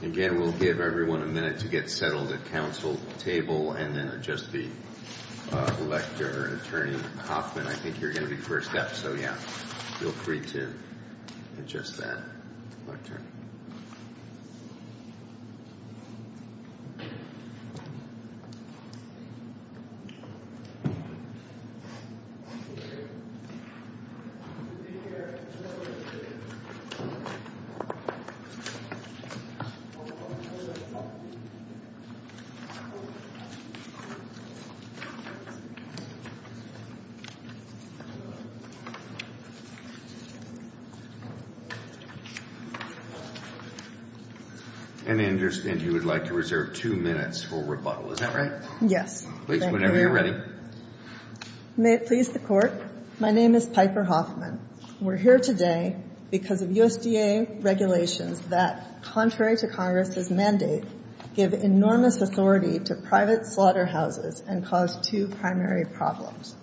Again, we'll give everyone a minute to get settled at council table and then adjust the elect your attorney. Hoffman, I think you're going to be first up. So yeah, feel free to adjust that. And I understand you would like to reserve two minutes for rebuttal. Is that right? Yes. Please, whenever you're ready. May it please the court. My name is Piper Hoffman. We're here today because of USDA regulations that, contrary to Congress' mandate, give enormous authority to private slaughterhouses and cause two primary problems.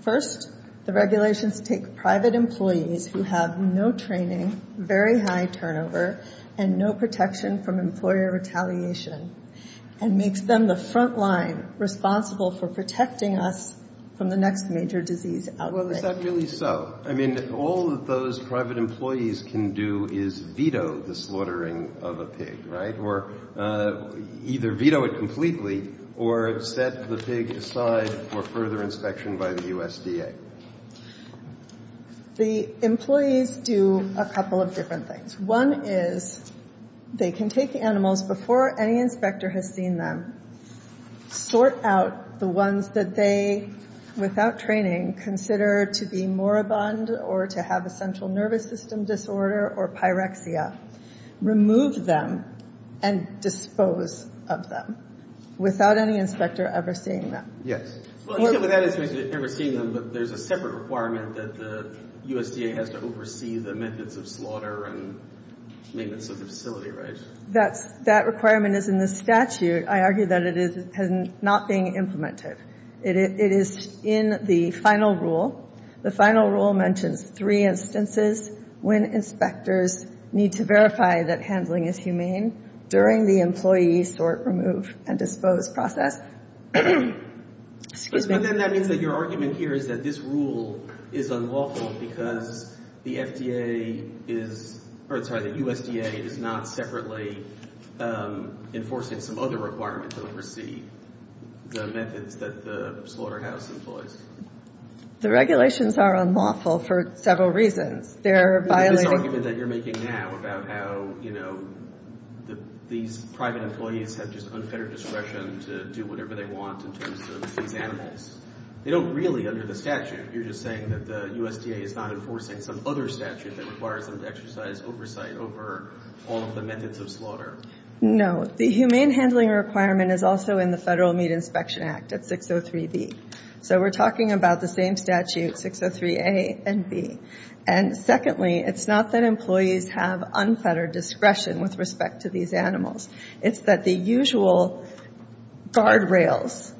First, the regulations take private employees who have no training, very high turnover, and no protection from employer retaliation and makes them the front line responsible for protecting us from the next major disease outbreak. Is that really so? I mean, all that those private employees can do is veto the slaughtering of a pig, right? Or either veto it completely or set the pig aside for further inspection by the USDA. The employees do a couple of different things. One is they can take animals before any inspector has seen them, sort out the ones that they, without training, consider to be moribund or to have a central nervous system disorder or pyrexia, remove them and dispose of them without any inspector ever seeing them. Yes. Well, except without an inspector ever seeing them, but there's a separate requirement that the USDA has to oversee the methods of slaughter and maintenance of the facility, right? That requirement is in the statute. I argue that it is not being implemented. It is in the final rule. The final rule mentions three instances when inspectors need to verify that handling is humane during the employee sort, remove, and dispose process. But then that means that your argument here is that this rule is unlawful because the FDA is, or sorry, the USDA is not separately enforcing some other requirements to oversee the methods that the slaughterhouse employs. The regulations are unlawful for several reasons. They're violating... This argument that you're making now about how, you know, these private employees have just unfettered discretion to do whatever they want in terms of these animals, they don't really under the statute. You're just saying that the USDA is not enforcing some other statute that requires them to exercise oversight over all of the methods of slaughter. No. The humane handling requirement is also in the Federal Meat Inspection Act at 603B. So we're talking about the same statute, 603A and B. And secondly, it's not that employees have unfettered discretion with respect to these animals. It's that the usual guardrails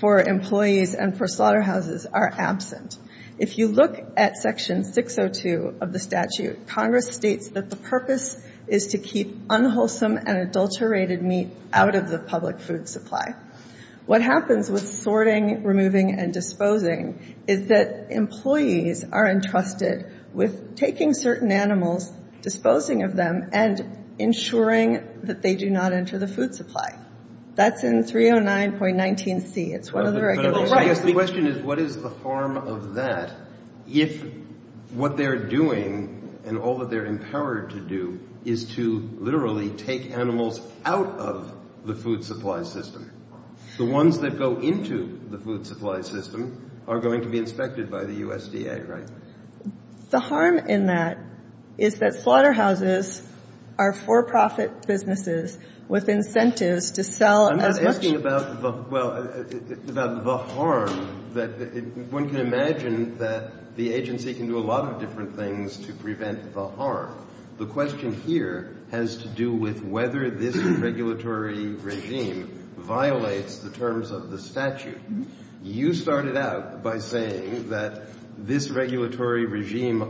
for employees and for slaughterhouses are absent. If you look at Section 602 of the statute, Congress states that the purpose is to keep unwholesome and adulterated meat out of the public food supply. What happens with sorting, removing, and disposing is that employees are entrusted with taking certain animals, disposing of them, and ensuring that they do not enter the food supply. That's in 309.19C. It's one of the regulations. So I guess the question is, what is the harm of that if what they're doing and all that they're empowered to do is to literally take animals out of the food supply system? The ones that go into the food supply system are going to be inspected by the USDA, right? So the harm in that is that slaughterhouses are for-profit businesses with incentives to sell as much as they can.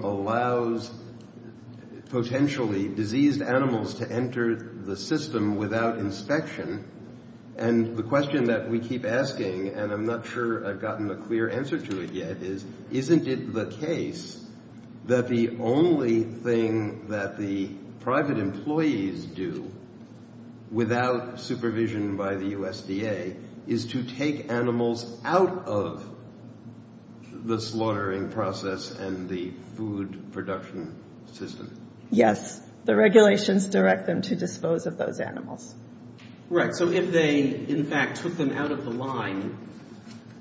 allows potentially diseased animals to enter the system without inspection. And the question that we keep asking, and I'm not sure I've gotten a clear answer to it yet, is, isn't it the case that the only thing that the private employees do without supervision by the USDA is to take animals out of the slaughtering process? And the food production system? Yes. The regulations direct them to dispose of those animals. Right. So if they, in fact, took them out of the line,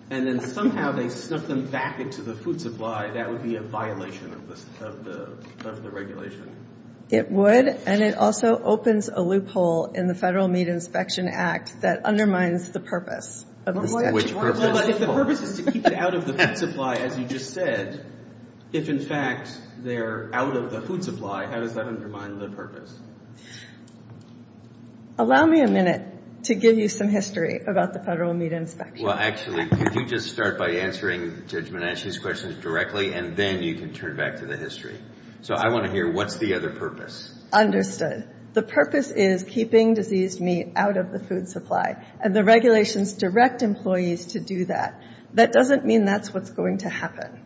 and then somehow they snuck them back into the food supply, that would be a violation of the regulation. It would, and it also opens a loophole in the Federal Meat Inspection Act that undermines the purpose. Which purpose? The purpose is to keep them out of the food supply, as you just said. If, in fact, they're out of the food supply, how does that undermine the purpose? Allow me a minute to give you some history about the Federal Meat Inspection Act. Well, actually, could you just start by answering Judge Menachie's questions directly, and then you can turn back to the history. So I want to hear, what's the other purpose? Understood. The purpose is keeping diseased meat out of the food supply, and the regulations direct employees to do that. That doesn't mean that's what's going to happen.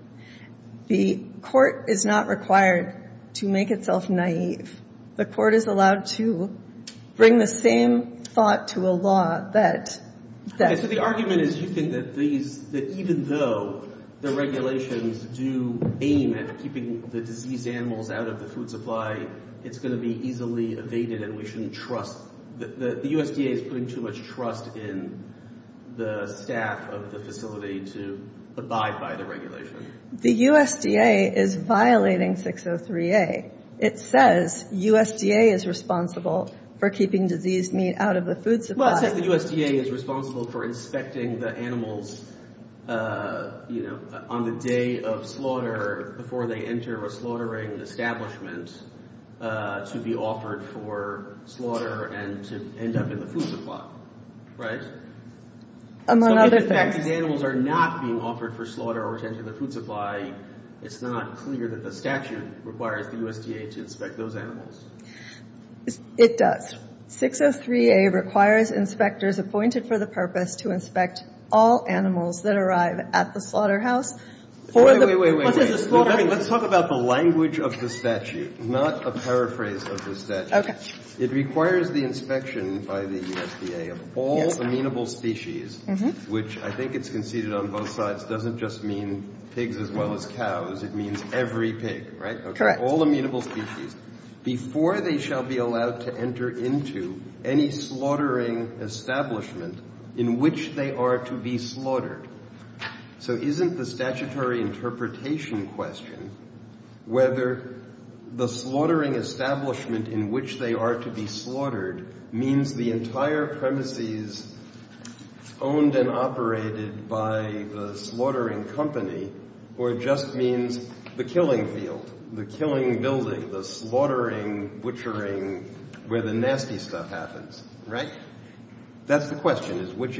The court is not required to make itself naive. The court is allowed to bring the same thought to a law that... So the argument is you think that even though the regulations do aim at keeping the diseased animals out of the food supply, it's going to be easily evaded and we shouldn't trust... The USDA is putting too much trust in the staff of the facility to abide by the regulation. The USDA is violating 603A. It says USDA is responsible for keeping diseased meat out of the food supply. Well, it says the USDA is responsible for inspecting the animals, you know, on the day of slaughter before they enter a slaughtering establishment to be offered for slaughter and to end up in the food supply, right? Among other things... So in effect, if animals are not being offered for slaughter or to enter the food supply, it's not clear that the statute requires the USDA to inspect those animals. It does. 603A requires inspectors appointed for the purpose to inspect all animals that arrive at the slaughterhouse for the... Wait, wait, wait. Let's talk about the language of the statute, not a paraphrase of the statute. Okay. It requires the inspection by the USDA of all amenable species, which I think it's conceded on both sides doesn't just mean pigs as well as cows. It means every pig, right? Correct. Before they shall be allowed to enter into any slaughtering establishment in which they are to be slaughtered. So isn't the statutory interpretation question whether the slaughtering establishment in which they are to be slaughtered means the entire premises owned and operated by the slaughtering company or just means the killing field, the killing building, the slaughtering butchering where the nasty stuff happens, right? That's the question is which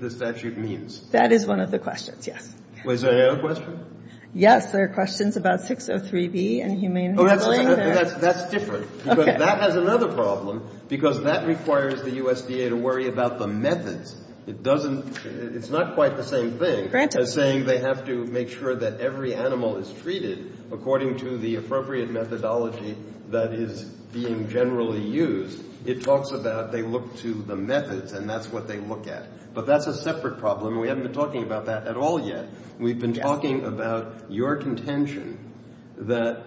the statute means. That is one of the questions, yes. Was there another question? Yes, there are questions about 603B and humane handling. That's different. Okay. Because that has another problem because that requires the USDA to worry about the methods. It doesn't, it's not quite the same thing. Granted. As saying they have to make sure that every animal is treated according to the appropriate methodology that is being generally used. It talks about they look to the methods and that's what they look at. But that's a separate problem. We haven't been talking about that at all yet. We've been talking about your contention that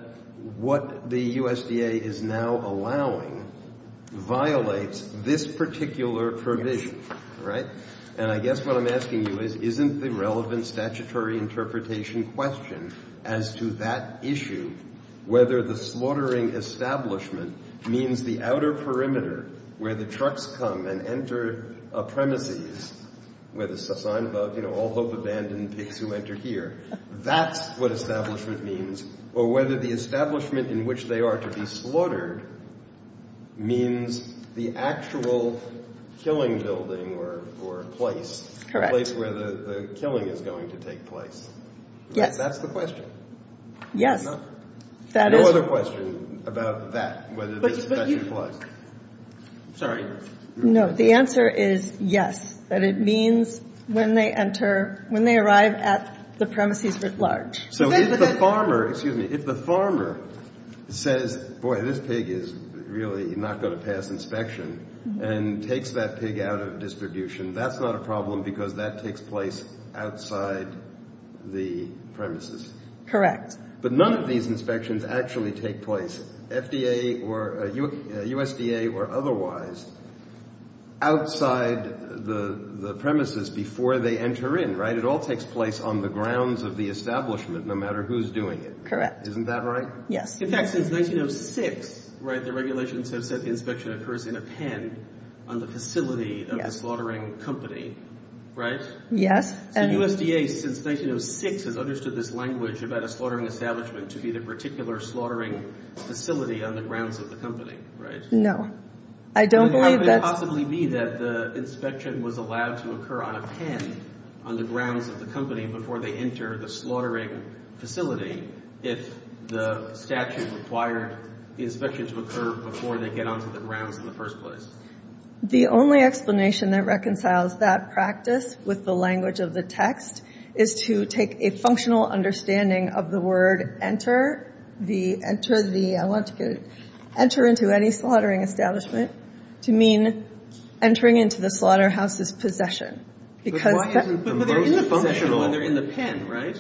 what the USDA is now allowing violates this particular provision, right? And I guess what I'm asking you is isn't the relevant statutory interpretation question as to that issue whether the slaughtering establishment means the outer perimeter where the trucks come and enter a premises with a sign above, you know, all hope abandoned pigs who enter here. That's what establishment means. Or whether the establishment in which they are to be slaughtered means the actual killing building or place. Correct. The place where the killing is going to take place. Yes. That's the question. Yes. No other question about that, whether this question applies. Sorry. No, the answer is yes, that it means when they enter, when they arrive at the premises at large. So if the farmer, excuse me, if the farmer says, boy, this pig is really not going to pass inspection and takes that pig out of distribution, that's not a problem because that takes place outside the premises. Correct. But none of these inspections actually take place. FDA or USDA or otherwise outside the premises before they enter in. Right. It all takes place on the grounds of the establishment, no matter who's doing it. Correct. Isn't that right? Yes. In fact, since 1906, right, the regulations have said the inspection occurs in a pen on the facility of the slaughtering company. Right. Yes. So USDA, since 1906, has understood this language about a slaughtering establishment to be the particular slaughtering facility on the grounds of the company. No. I don't believe that's. How could it possibly be that the inspection was allowed to occur on a pen on the grounds of the company before they enter the slaughtering facility if the statute required the inspection to occur before they get onto the grounds in the first place? The only explanation that reconciles that practice with the language of the text is to take a functional understanding of the word enter, enter the, I want to get it, enter into any slaughtering establishment to mean entering into the slaughterhouse's possession. But they're in the pen, right?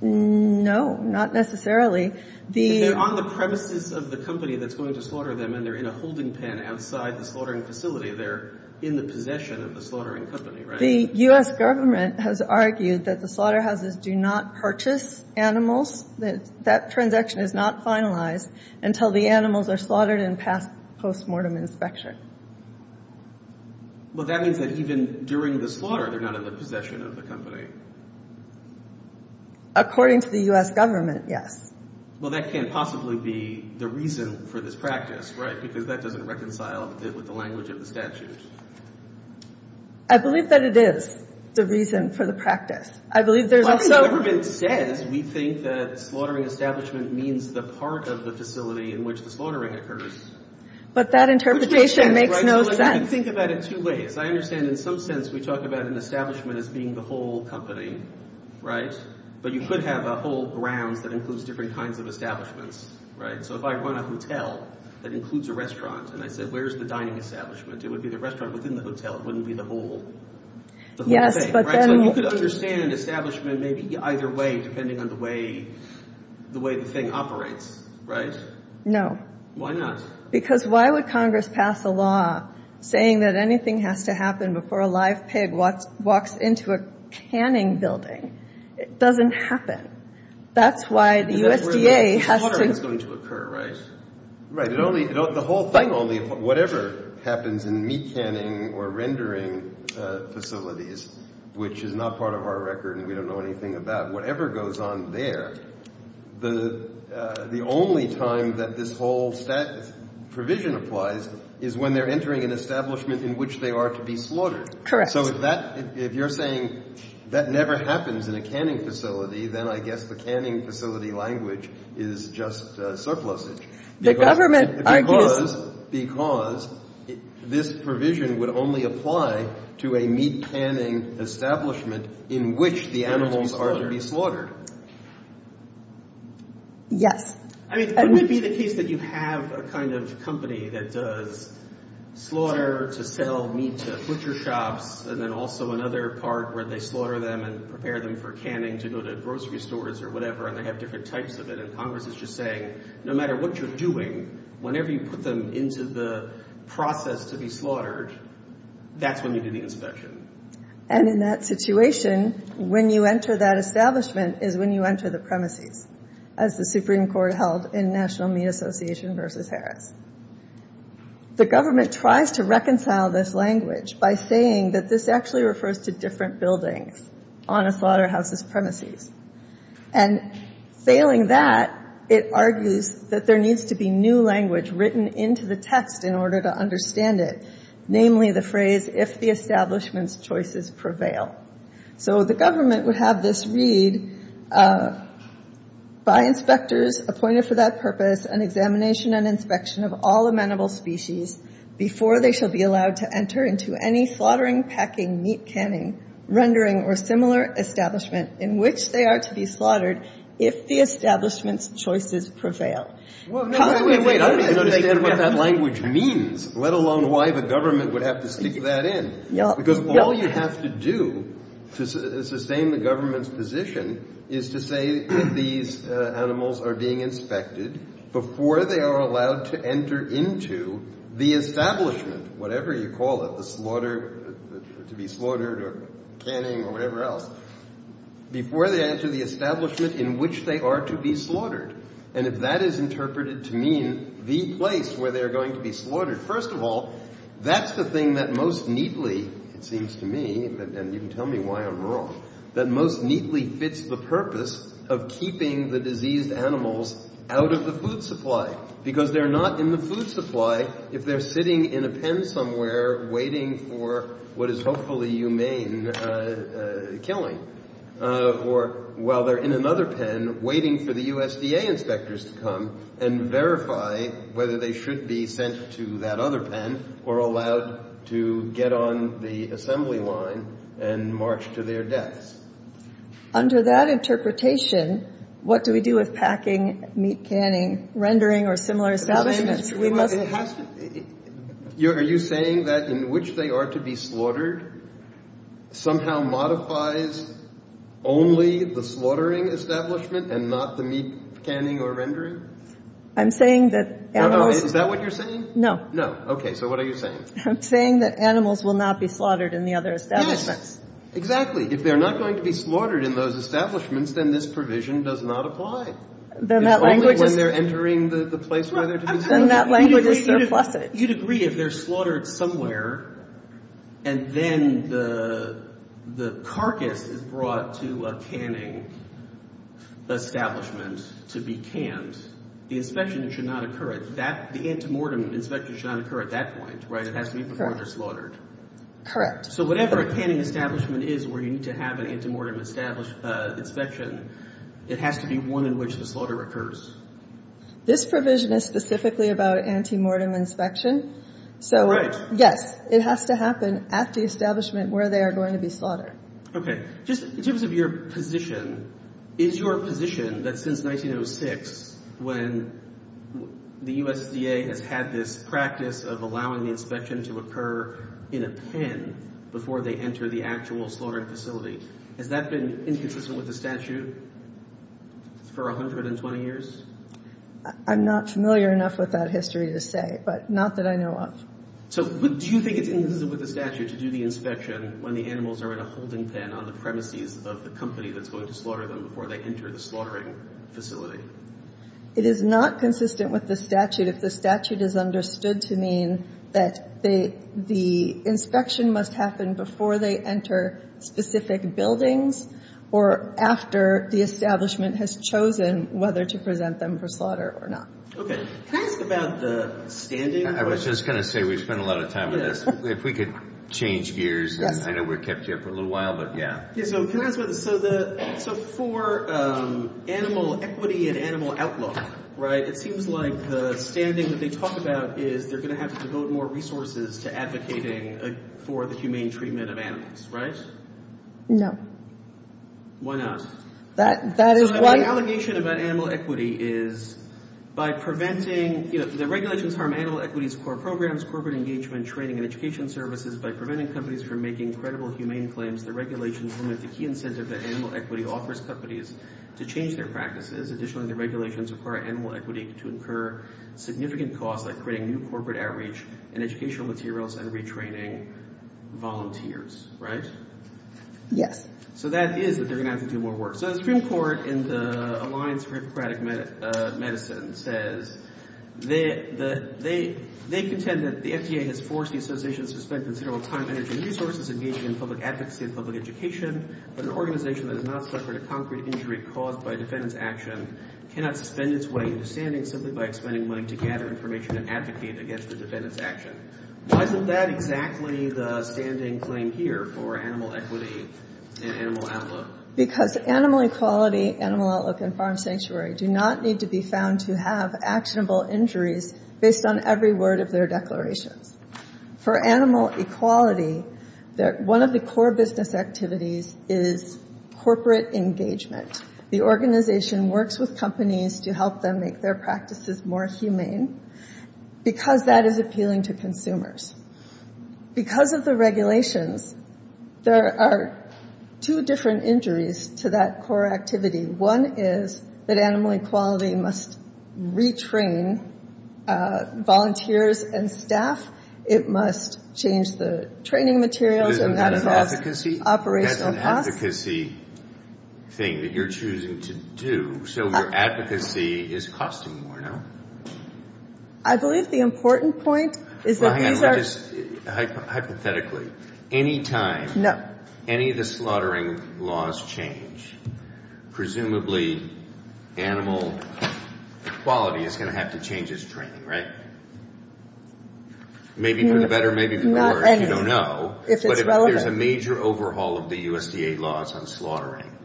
No, not necessarily. If they're on the premises of the company that's going to slaughter them and they're in a holding pen outside the slaughtering facility, they're in the possession of the slaughtering company, right? The U.S. government has argued that the slaughterhouses do not purchase animals, that that transaction is not finalized until the animals are slaughtered and passed post-mortem inspection. Well, that means that even during the slaughter, they're not in the possession of the company. According to the U.S. government, yes. Well, that can't possibly be the reason for this practice, right, because that doesn't reconcile with the language of the statute. I believe that it is the reason for the practice. I believe there's also... Well, it's never been said. We think that slaughtering establishment means the part of the facility in which the slaughtering occurs. But that interpretation makes no sense. I think about it two ways. I understand in some sense we talk about an establishment as being the whole company, right? But you could have a whole grounds that includes different kinds of establishments, right? So if I run a hotel that includes a restaurant and I said, where's the dining establishment? It would be the restaurant within the hotel. It wouldn't be the whole thing, right? So you could understand establishment maybe either way depending on the way the thing operates, right? No. Why not? Because why would Congress pass a law saying that anything has to happen before a live pig walks into a canning building? It doesn't happen. That's why the USDA has to... That's where the slaughter is going to occur, right? Right. The whole thing only... Whatever happens in meat canning or rendering facilities, which is not part of our record and we don't know anything about, whatever goes on there, the only time that this whole provision applies is when they're entering an establishment in which they are to be slaughtered. So if you're saying that never happens in a canning facility, then I guess the canning facility language is just surplusage. The government argues... Because this provision would only apply to a meat canning establishment in which the animals are to be slaughtered. Yes. I mean, wouldn't it be the case that you have a kind of company that does slaughter to sell meat to butcher shops and then also another part where they slaughter them and prepare them for canning to go to grocery stores or whatever and they have different types of it and Congress is just saying, no matter what you're doing, whenever you put them into the process to be slaughtered, that's when you do the inspection. And in that situation, when you enter that establishment is when you enter the premises, as the Supreme Court held in National Meat Association v. Harris. The government tries to reconcile this language by saying that this actually refers to different buildings on a slaughterhouse's premises. And failing that, it argues that there needs to be new language written into the text in order to understand it. Namely the phrase, if the establishment's choices prevail. So the government would have this read, By inspectors appointed for that purpose, an examination and inspection of all amenable species before they shall be allowed to enter into any slaughtering, packing, meat canning, rendering, or similar establishment in which they are to be slaughtered if the establishment's choices prevail. Wait, wait, wait. I don't understand what that language means, let alone why the government would have to stick that in. Because all you have to do to sustain the government's position is to say that these animals are being inspected before they are allowed to enter into the establishment, whatever you call it, to be slaughtered or canning or whatever else, before they enter the establishment in which they are to be slaughtered. And if that is interpreted to mean the place where they are going to be slaughtered, first of all, that's the thing that most neatly, it seems to me, and you can tell me why I'm wrong, that most neatly fits the purpose of keeping the diseased animals out of the food supply. Because they're not in the food supply if they're sitting in a pen somewhere waiting for what is hopefully humane killing, or while they're in another pen waiting for the USDA inspectors to come and verify whether they should be sent to that other pen or allowed to get on the assembly line and march to their deaths. Under that interpretation, what do we do with packing, meat canning, rendering or similar establishments? Are you saying that in which they are to be slaughtered somehow modifies only the slaughtering establishment and not the meat canning or rendering? I'm saying that animals... Is that what you're saying? No. No. Okay. So what are you saying? I'm saying that animals will not be slaughtered in the other establishments. Yes. Exactly. If they're not going to be slaughtered in those establishments, then this provision does not apply. Then that language is... It's only when they're entering the place where they're to be slaughtered. Then that language is surplusive. You'd agree if they're slaughtered somewhere and then the carcass is brought to a canning establishment to be canned, the inspection should not occur at that... The antemortem inspection should not occur at that point, right? It has to be before they're slaughtered. Correct. So whatever a canning establishment is where you need to have an antemortem inspection, it has to be one in which the slaughter occurs. This provision is specifically about antemortem inspection. Right. Yes. It has to happen at the establishment where they are going to be slaughtered. Okay. Just in terms of your position, is your position that since 1906, when the USDA has had this practice of allowing the inspection to occur in a pen before they enter the actual slaughtering facility, has that been inconsistent with the statute for 120 years? I'm not familiar enough with that history to say, but not that I know of. So do you think it's inconsistent with the statute to do the inspection when the animals are in a holding pen on the premises of the company that's going to slaughter them before they enter the slaughtering facility? It is not consistent with the statute if the statute is understood to mean that the inspection must happen before they enter specific buildings or after the establishment has chosen whether to present them for slaughter or not. Okay. Can I ask about the standing? I was just going to say we've spent a lot of time on this. If we could change gears. I know we've kept you up for a little while, but yeah. So can I ask about this? So for animal equity and animal outlook, right, it seems like the standing that they talk about is they're going to have to devote more resources to advocating for the humane treatment of animals, right? No. Why not? That is why— Yes. So that is that they're going to have to do more work. So the Supreme Court in the Alliance for Hippocratic Medicine says they contend that the FDA has forced the association to spend considerable time, energy, and resources engaging in public advocacy and public education, but an organization that has not suffered a concrete injury caused by a defendant's action cannot suspend its way into standing simply by expending money to gather information and advocate against the defendant's action. Why isn't that exactly the standing claim here for animal equity and animal outlook? Because animal equality, animal outlook, and farm sanctuary do not need to be found to have actionable injuries based on every word of their declarations. For animal equality, one of the core business activities is corporate engagement. The organization works with companies to help them make their practices more humane because that is appealing to consumers. Because of the regulations, there are two different injuries to that core activity. One is that animal equality must retrain volunteers and staff. It must change the training materials and that involves operational costs. But isn't that an advocacy thing that you're choosing to do? So your advocacy is costing more, no? I believe the important point is that these are... Hypothetically, any time any of the slaughtering laws change, presumably animal equality is going to have to change its training, right? Maybe for the better, maybe for the worse, you don't know. If it's relevant. But if there's a major overhaul of the USDA laws on slaughtering,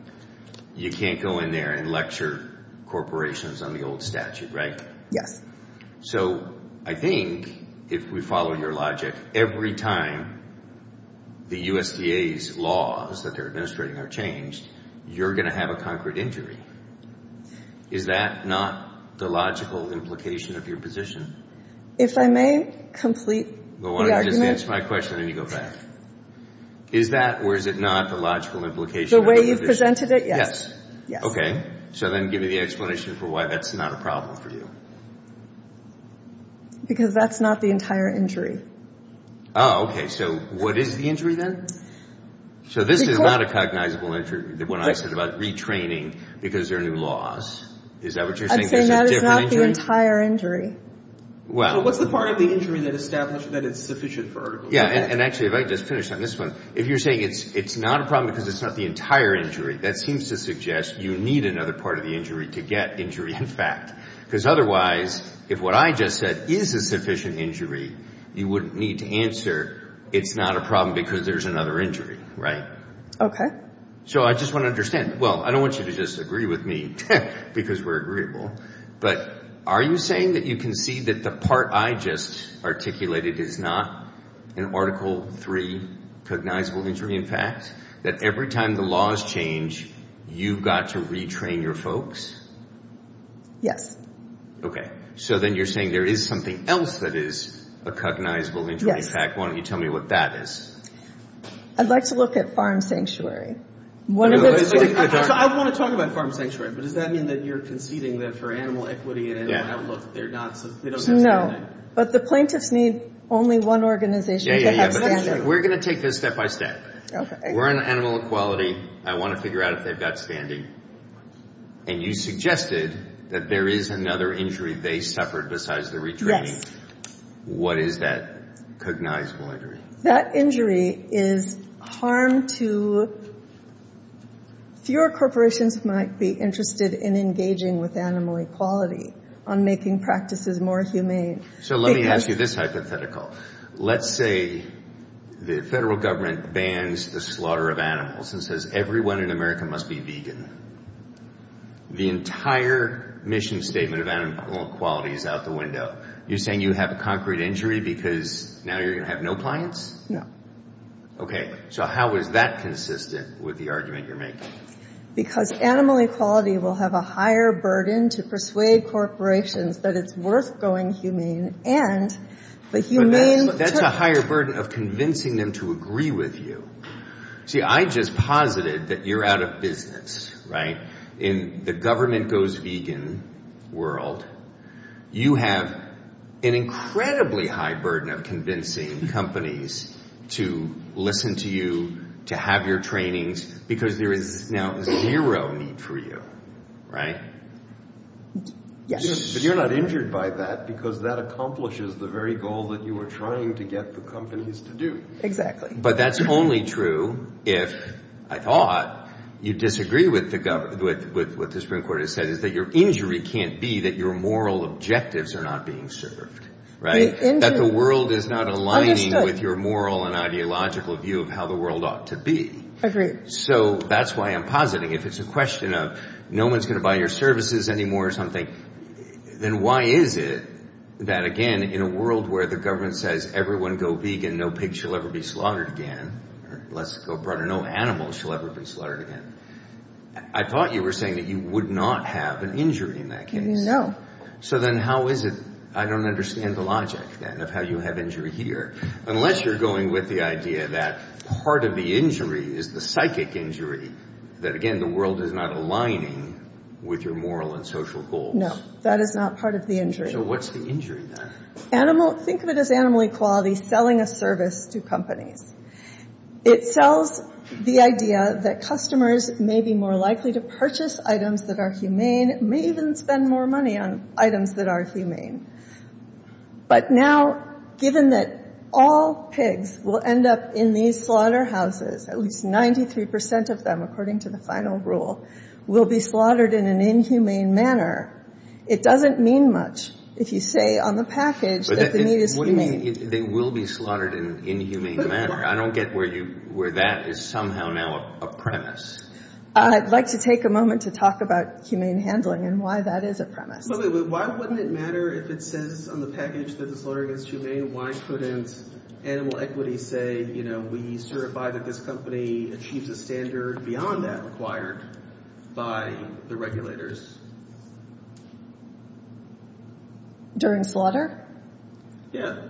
you can't go in there and lecture corporations on the old statute, right? Yes. So I think if we follow your logic, every time the USDA's laws that they're administrating are changed, you're going to have a concrete injury. Is that not the logical implication of your position? If I may complete the argument. Well, why don't you just answer my question and then you go back. Is that or is it not the logical implication of your position? If I presented it, yes. So then give me the explanation for why that's not a problem for you. Because that's not the entire injury. Oh, okay. So what is the injury then? So this is not a cognizable injury, the one I said about retraining because there are new laws. Is that what you're saying? I'd say no, it's not the entire injury. Well, what's the part of the injury that establishes that it's sufficient for articulation? Yeah, and actually if I could just finish on this one. So if you're saying it's not a problem because it's not the entire injury, that seems to suggest you need another part of the injury to get injury in fact. Because otherwise, if what I just said is a sufficient injury, you wouldn't need to answer it's not a problem because there's another injury, right? Okay. So I just want to understand. Well, I don't want you to just agree with me because we're agreeable. But are you saying that you concede that the part I just articulated is not an Article 3 cognizable injury in fact? That every time the laws change, you've got to retrain your folks? Yes. Okay. So then you're saying there is something else that is a cognizable injury in fact. Yes. Why don't you tell me what that is? I'd like to look at farm sanctuary. So I want to talk about farm sanctuary. But does that mean that you're conceding that for animal equity and animal outlook, they don't have standing? No. But the plaintiffs need only one organization to have standing. We're going to take this step by step. We're on animal equality. I want to figure out if they've got standing. And you suggested that there is another injury they suffered besides the retraining. Yes. What is that cognizable injury? That injury is harm to fewer corporations who might be interested in engaging with animal equality on making practices more humane. So let me ask you this hypothetical. Let's say the federal government bans the slaughter of animals and says everyone in America must be vegan. The entire mission statement of animal equality is out the window. You're saying you have a concrete injury because now you're going to have no clients? Okay. So how is that consistent with the argument you're making? Because animal equality will have a higher burden to persuade corporations that it's worth going humane. But that's a higher burden of convincing them to agree with you. See, I just posited that you're out of business, right? In the government goes vegan world, you have an incredibly high burden of convincing companies to listen to you, to have your trainings, because there is now zero need for you, right? Yes. But you're not injured by that because that accomplishes the very goal that you were trying to get the companies to do. Exactly. But that's only true if, I thought, you disagree with what the Supreme Court has said is that your injury can't be that your moral objectives are not being served, right? That the world is not aligning with your moral and ideological view of how the world ought to be. Agreed. So that's why I'm positing if it's a question of no one's going to buy your services anymore or something, then why is it that, again, in a world where the government says everyone go vegan, no pigs shall ever be slaughtered again, or let's go broader, no animals shall ever be slaughtered again, I thought you were saying that you would not have an injury in that case. No. So then how is it I don't understand the logic then of how you have injury here? Unless you're going with the idea that part of the injury is the psychic injury that, again, the world is not aligning with your moral and social goals. No. That is not part of the injury. So what's the injury then? Think of it as animal equality selling a service to companies. It sells the idea that customers may be more likely to purchase items that are humane, may even spend more money on items that are humane. But now, given that all pigs will end up in these slaughterhouses, at least 93% of them, according to the final rule, will be slaughtered in an inhumane manner, it doesn't mean much if you say on the package that the meat is humane. What do you mean they will be slaughtered in an inhumane manner? I don't get where that is somehow now a premise. I'd like to take a moment to talk about humane handling and why that is a premise. Why wouldn't it matter if it says on the package that the slaughter is humane? Why couldn't animal equity say, you know, we certify that this company achieves a standard beyond that required by the regulators? During slaughter? Yeah.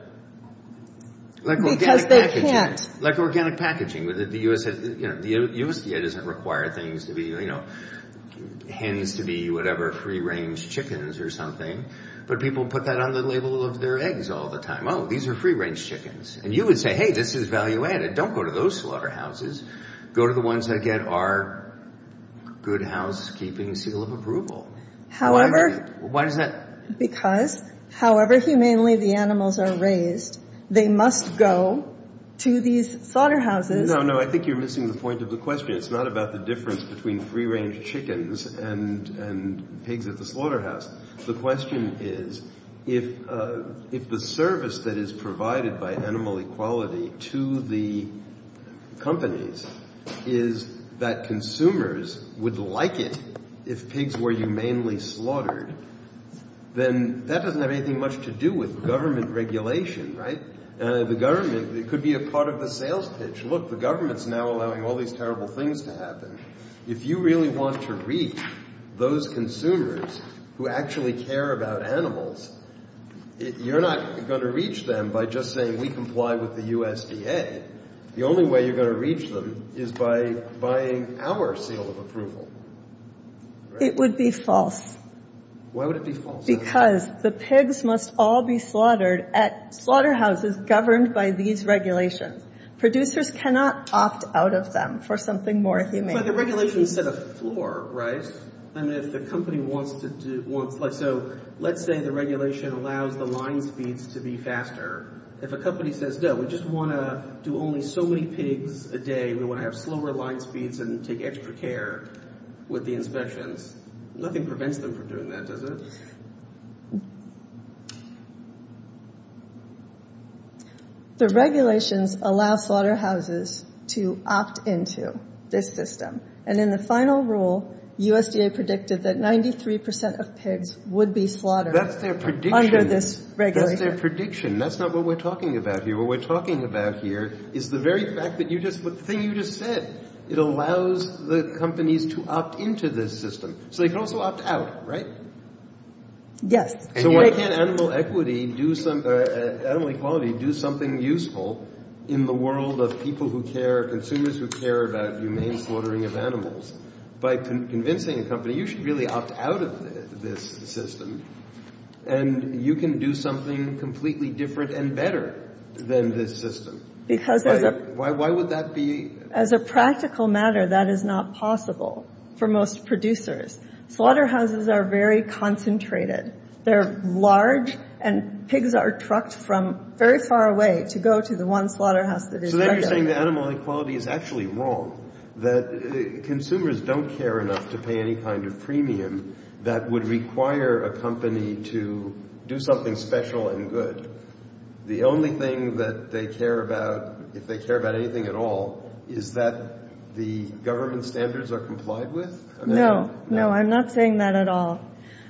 Because they can't. Like organic packaging. The USDA doesn't require things to be, you know, hens to be whatever free-range chickens or something. But people put that on the label of their eggs all the time. Oh, these are free-range chickens. And you would say, hey, this is value-added. Don't go to those slaughterhouses. Go to the ones that get our good housekeeping seal of approval. However. Why does that? Because however humanely the animals are raised, they must go to these slaughterhouses. No, no. I think you're missing the point of the question. It's not about the difference between free-range chickens and pigs at the slaughterhouse. The question is, if the service that is provided by animal equality to the companies is that consumers would like it if pigs were humanely slaughtered, then that doesn't have anything much to do with government regulation. The government could be a part of the sales pitch. Look, the government is now allowing all these terrible things to happen. If you really want to reach those consumers who actually care about animals, you're not going to reach them by just saying we comply with the USDA. The only way you're going to reach them is by buying our seal of approval. It would be false. Why would it be false? Because the pigs must all be slaughtered at slaughterhouses governed by these regulations. Producers cannot opt out of them for something more humane. But the regulations set a floor, right? And if the company wants to do – so let's say the regulation allows the line speeds to be faster. If a company says, no, we just want to do only so many pigs a day, we want to have slower line speeds and take extra care with the inspections, nothing prevents them from doing that, does it? The regulations allow slaughterhouses to opt into this system. And in the final rule, USDA predicted that 93% of pigs would be slaughtered under this regulation. That's their prediction. That's not what we're talking about here. What we're talking about here is the very fact that you just – the thing you just said. It allows the companies to opt into this system. So they can also opt out, right? Yes. So why can't animal equity do – animal equality do something useful in the world of people who care, consumers who care about humane slaughtering of animals? By convincing a company, you should really opt out of this system and you can do something completely different and better than this system. Because there's a – Why would that be – As a practical matter, that is not possible for most producers. Slaughterhouses are very concentrated. They're large and pigs are trucked from very far away to go to the one slaughterhouse that is regular. So then you're saying that animal equality is actually wrong, that consumers don't care enough to pay any kind of premium that would require a company to do something special and good. The only thing that they care about, if they care about anything at all, is that the government standards are complied with? No, no. I'm not saying that at all.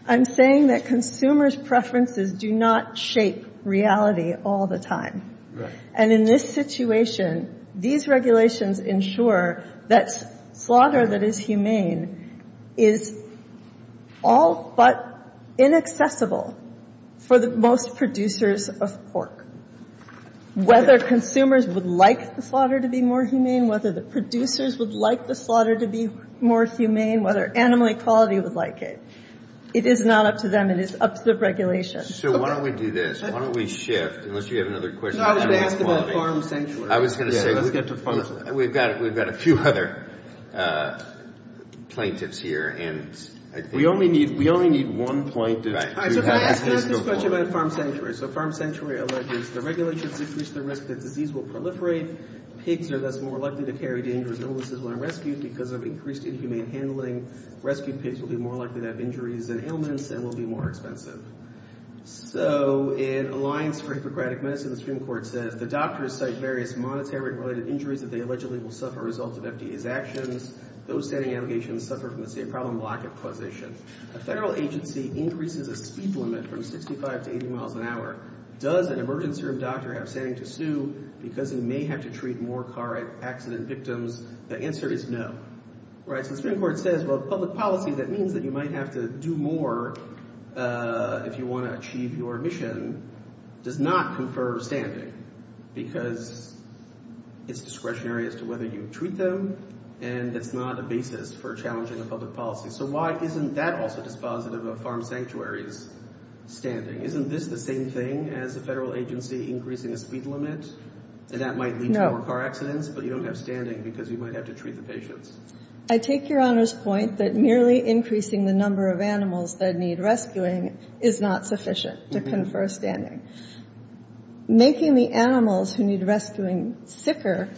I'm saying that consumers' preferences do not shape reality all the time. Right. And in this situation, these regulations ensure that slaughter that is humane is all but inaccessible for the most producers of pork. Whether consumers would like the slaughter to be more humane, whether the producers would like the slaughter to be more humane, whether animal equality would like it, it is not up to them. It is up to the regulations. So why don't we do this? Why don't we shift? Unless you have another question. No, I was going to ask about Farm Sanctuary. I was going to say – Let's get to Farm Sanctuary. We've got a few other plaintiffs here and I think – We only need one plaintiff. Right. So can I ask this question about Farm Sanctuary? So Farm Sanctuary alleges the regulations increase the risk that disease will proliferate. Pigs are thus more likely to carry dangerous illnesses when rescued because of increased inhumane handling. Rescued pigs will be more likely to have injuries and ailments and will be more expensive. So in Alliance for Hippocratic Medicine, the Supreme Court says the doctors cite various monetary-related injuries that they allegedly will suffer as a result of FDA's actions. Those standing allegations suffer from the state problem of lack of causation. A federal agency increases a speed limit from 65 to 80 miles an hour. Does an emergency room doctor have standing to sue because he may have to treat more car accident victims? The answer is no. Right. So the Supreme Court says, well, public policy, that means that you might have to do more if you want to achieve your mission, does not confer standing. Because it's discretionary as to whether you treat them and that's not a basis for challenging the public policy. So why isn't that also dispositive of Farm Sanctuary's standing? Isn't this the same thing as a federal agency increasing a speed limit and that might lead to more car accidents? But you don't have standing because you might have to treat the patients. I take Your Honor's point that merely increasing the number of animals that need rescuing is not sufficient to confer standing. Making the animals who need rescuing sicker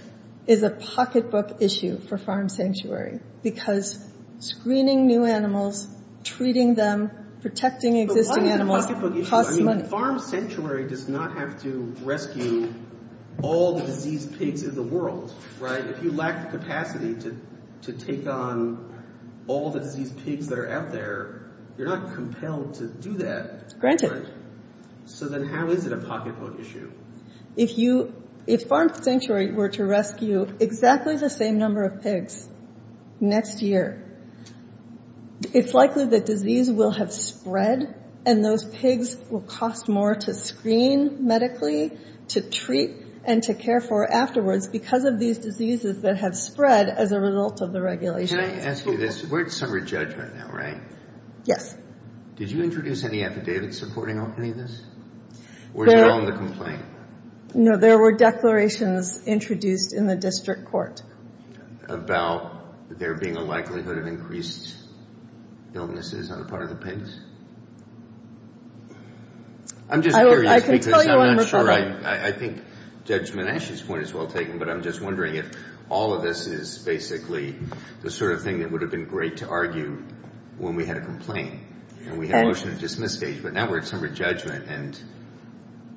is a pocketbook issue for Farm Sanctuary because screening new animals, treating them, protecting existing animals costs money. But why is it a pocketbook issue? I mean, Farm Sanctuary does not have to rescue all the diseased pigs in the world, right? If you lack the capacity to take on all the diseased pigs that are out there, you're not compelled to do that. Granted. So then how is it a pocketbook issue? If Farm Sanctuary were to rescue exactly the same number of pigs next year, it's likely that disease will have spread and those pigs will cost more to screen medically, to treat, and to care for afterwards because of these diseases that have spread as a result of the regulation. Can I ask you this? We're at summary judgment now, right? Yes. Did you introduce any affidavits supporting any of this? Or is it all in the complaint? No, there were declarations introduced in the district court. About there being a likelihood of increased illnesses on the part of the pigs? I'm just curious because I'm not sure I think Judge Menasche's point is well taken, but I'm just wondering if all of this is basically the sort of thing that would have been great to argue when we had a complaint. And we had a motion to dismiss stage, but now we're at summary judgment, and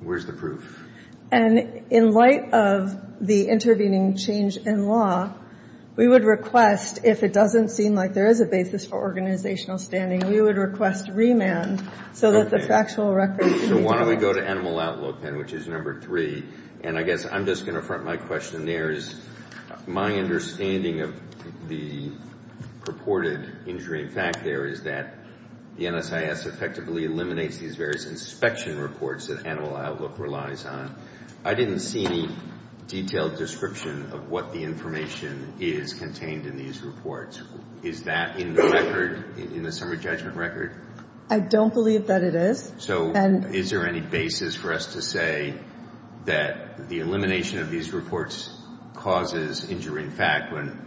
where's the proof? And in light of the intervening change in law, we would request, if it doesn't seem like there is a basis for organizational standing, we would request remand so that the factual records can be dealt with. Why don't we go to Animal Outlook then, which is number three. And I guess I'm just going to front my question there is my understanding of the purported injury in fact there is that the NSIS effectively eliminates these various inspection reports that Animal Outlook relies on. I didn't see any detailed description of what the information is contained in these reports. Is that in the record, in the summary judgment record? I don't believe that it is. So is there any basis for us to say that the elimination of these reports causes injury in fact when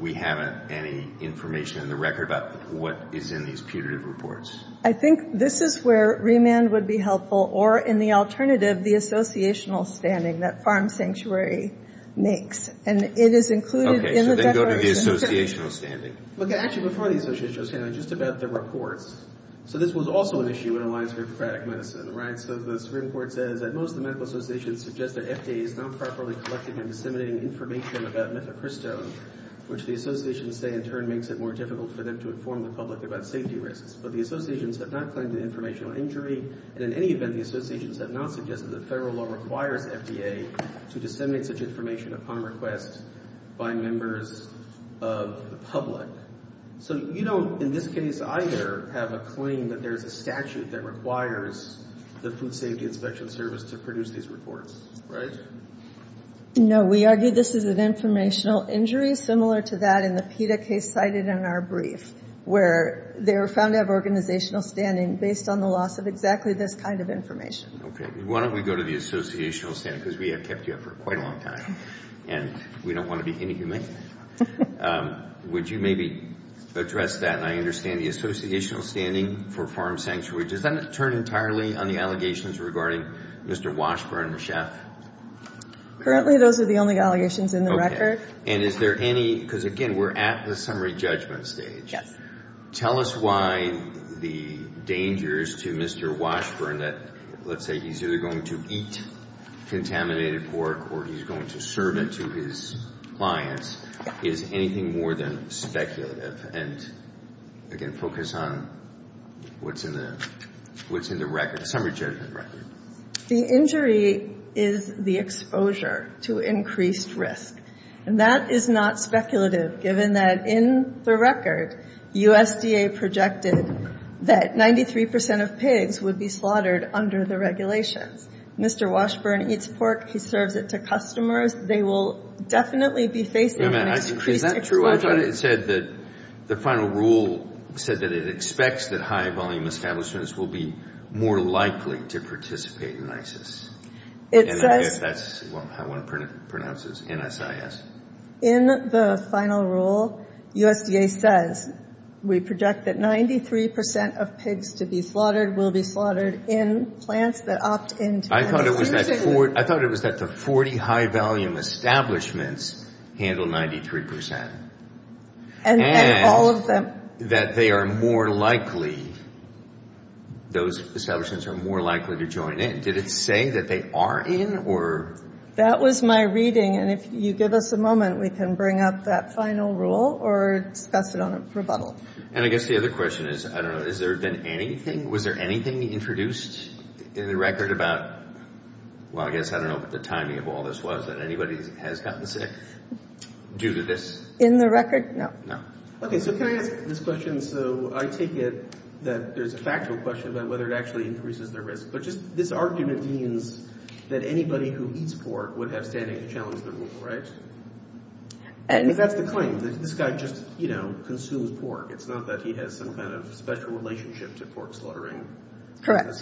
we haven't any information in the record about what is in these putative reports? I think this is where remand would be helpful, or in the alternative, the associational standing that Farm Sanctuary makes. And it is included in the declaration. Okay, so then go to the associational standing. Okay, actually before the associational standing, just about the reports. So this was also an issue in Alliance for Democratic Medicine, right? So the Supreme Court says that most of the medical associations suggest that FDA is not properly collecting and disseminating information about methamcrystone, which the associations say in turn makes it more difficult for them to inform the public about safety risks. But the associations have not claimed an informational injury. And in any event, the associations have not suggested that federal law requires FDA to disseminate such information upon request by members of the public. So you don't in this case either have a claim that there is a statute that requires the Food Safety Inspection Service to produce these reports, right? No, we argue this is an informational injury, similar to that in the PETA case cited in our brief, where they were found to have organizational standing based on the loss of exactly this kind of information. Okay. Why don't we go to the associational standing, because we have kept you up for quite a long time. And we don't want to be inhumane. Would you maybe address that? And I understand the associational standing for Farm Sanctuary. Does that turn entirely on the allegations regarding Mr. Washburn, the chef? Currently, those are the only allegations in the record. And is there any ñ because, again, we're at the summary judgment stage. Yes. Tell us why the dangers to Mr. Washburn that, let's say, he's either going to eat contaminated pork or he's going to serve it to his clients is anything more than speculative. And, again, focus on what's in the record, summary judgment record. The injury is the exposure to increased risk. And that is not speculative, given that in the record, USDA projected that 93 percent of pigs would be slaughtered under the regulations. Mr. Washburn eats pork. He serves it to customers. They will definitely be facing an increased exposure. I thought it said that the final rule said that it expects that high-volume establishments will be more likely to participate in ISIS. And I guess that's how one pronounces it, NSIS. In the final rule, USDA says we project that 93 percent of pigs to be slaughtered will be slaughtered in plants that opt in. I thought it was that the 40 high-volume establishments handled 93 percent. And all of them. And that they are more likely, those establishments are more likely to join in. Did it say that they are in, or? That was my reading, and if you give us a moment, we can bring up that final rule or discuss it on a rebuttal. And I guess the other question is, I don't know, has there been anything, was there anything introduced in the record about, well, I guess I don't know what the timing of all this was, that anybody has gotten sick due to this? In the record, no. Okay, so can I ask this question? So I take it that there's a factual question about whether it actually increases their risk. But just this argument means that anybody who eats pork would have standing to challenge the rule, right? If that's the claim, this guy just, you know, consumes pork. It's not that he has some kind of special relationship to pork slaughtering. Correct.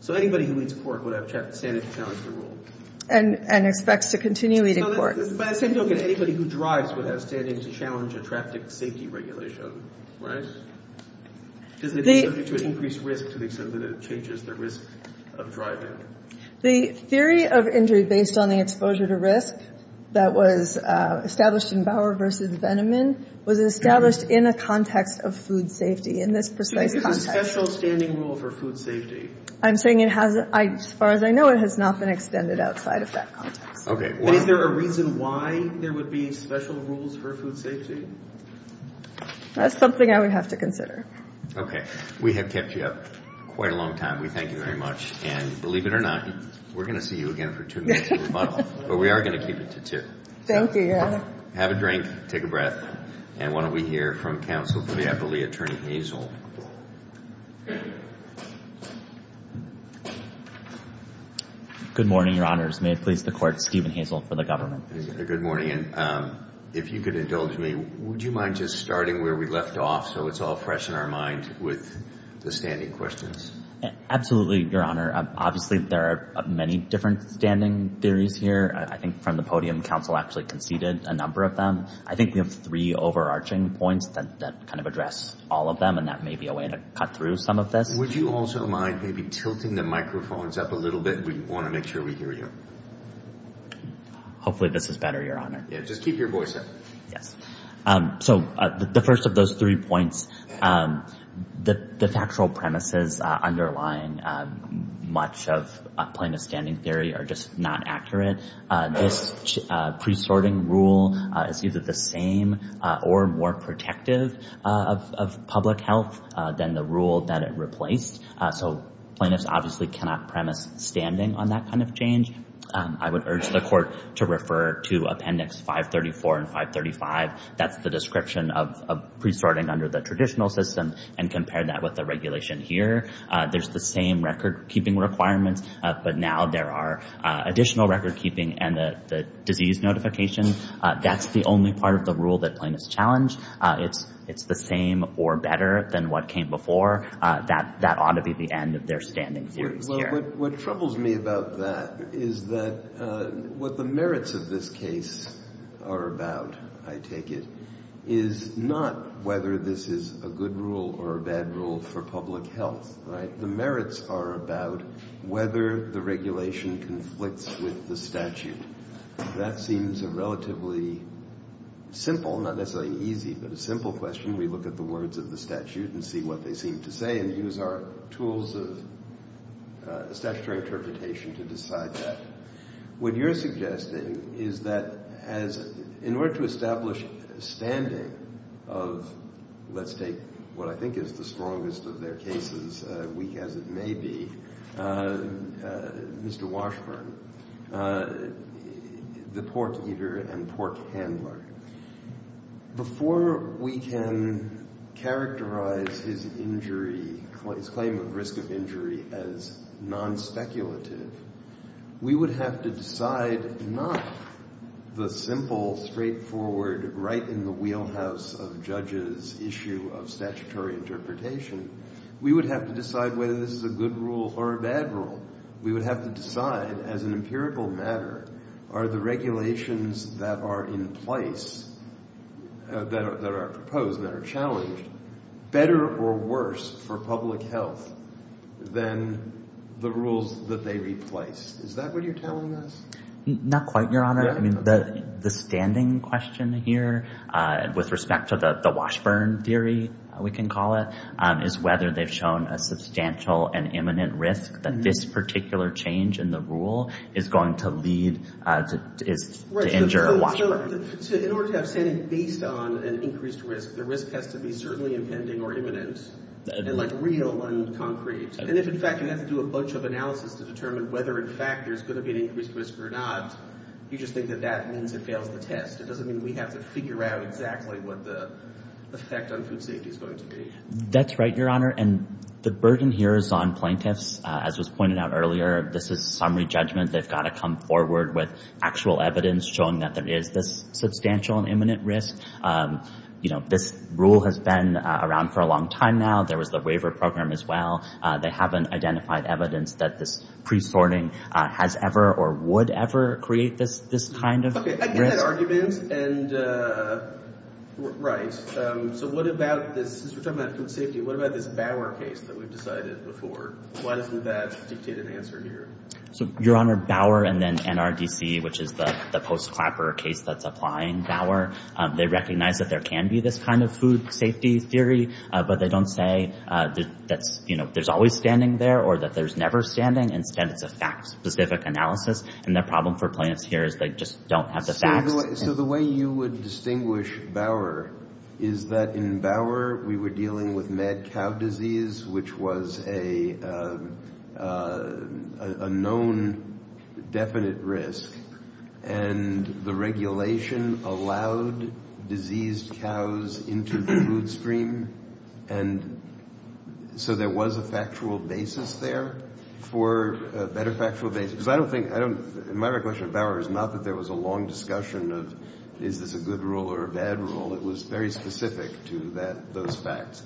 So anybody who eats pork would have standing to challenge the rule. And expects to continue eating pork. By the same token, anybody who drives would have standing to challenge a traffic safety regulation, right? Does it lead to an increased risk to the extent that it changes the risk of driving? The theory of injury based on the exposure to risk that was established in Bauer v. Veneman was established in a context of food safety, in this precise context. So there's a special standing rule for food safety? I'm saying it has, as far as I know, it has not been extended outside of that context. Okay. But is there a reason why there would be special rules for food safety? That's something I would have to consider. Okay. We have kept you up quite a long time. We thank you very much. And believe it or not, we're going to see you again for two minutes of rebuttal. But we are going to keep it to two. Thank you. Thank you, Your Honor. Have a drink. Take a breath. And why don't we hear from counsel for the appellee, Attorney Hazel. Good morning, Your Honors. May it please the Court, Stephen Hazel for the government. Good morning. And if you could indulge me, would you mind just starting where we left off so it's all fresh in our mind with the standing questions? Absolutely, Your Honor. Obviously there are many different standing theories here. I think from the podium, counsel actually conceded a number of them. I think we have three overarching points that kind of address all of them, and that may be a way to cut through some of this. Would you also mind maybe tilting the microphones up a little bit? We want to make sure we hear you. Hopefully this is better, Your Honor. Just keep your voice up. Yes. So the first of those three points, the factual premises underlying much of plaintiff's standing theory are just not accurate. This pre-sorting rule is either the same or more protective of public health than the rule that it replaced. So plaintiffs obviously cannot premise standing on that kind of change. I would urge the Court to refer to Appendix 534 and 535. That's the description of pre-sorting under the traditional system and compare that with the regulation here. There's the same record-keeping requirements, but now there are additional record-keeping and the disease notification. That's the only part of the rule that plaintiffs challenge. It's the same or better than what came before. That ought to be the end of their standing theories here. What troubles me about that is that what the merits of this case are about, I take it, is not whether this is a good rule or a bad rule for public health. The merits are about whether the regulation conflicts with the statute. That seems a relatively simple, not necessarily easy, but a simple question. We look at the words of the statute and see what they seem to say and use our tools of statutory interpretation to decide that. What you're suggesting is that in order to establish standing of, let's take what I think is the strongest of their cases, weak as it may be, Mr. Washburn, the pork-eater and pork-handler, before we can characterize his claim of risk of injury as non-speculative, we would have to decide not the simple, straightforward, right in the wheelhouse of judges' issue of statutory interpretation. We would have to decide whether this is a good rule or a bad rule. We would have to decide, as an empirical matter, are the regulations that are in place, that are proposed and that are challenged, better or worse for public health than the rules that they replace? Is that what you're telling us? Not quite, Your Honor. The standing question here with respect to the Washburn theory, we can call it, is whether they've shown a substantial and imminent risk that this particular change in the rule is going to lead to injure Washburn. In order to have standing based on an increased risk, the risk has to be certainly impending or imminent and, like, real and concrete. And if, in fact, you have to do a bunch of analysis to determine whether, in fact, there's going to be an increased risk or not, you just think that that means it fails the test. It doesn't mean we have to figure out exactly what the effect on food safety is going to be. That's right, Your Honor. And the burden here is on plaintiffs. As was pointed out earlier, this is summary judgment. They've got to come forward with actual evidence showing that there is this substantial and imminent risk. You know, this rule has been around for a long time now. There was the waiver program as well. They haven't identified evidence that this pre-sorting has ever or would ever create this kind of risk. Okay, I get that argument, and right. So what about this? Since we're talking about food safety, what about this Bauer case that we've decided before? Why doesn't that dictate an answer here? So, Your Honor, Bauer and then NRDC, which is the post-Clapper case that's applying Bauer, they recognize that there can be this kind of food safety theory, but they don't say that there's always standing there or that there's never standing. Instead, it's a fact-specific analysis, and the problem for plaintiffs here is they just don't have the facts. So the way you would distinguish Bauer is that in Bauer we were dealing with mad cow disease, which was a known definite risk, and the regulation allowed diseased cows into the food stream, and so there was a factual basis there for a better factual basis. Because I don't think my question of Bauer is not that there was a long discussion of is this a good rule or a bad rule. It was very specific to those facts.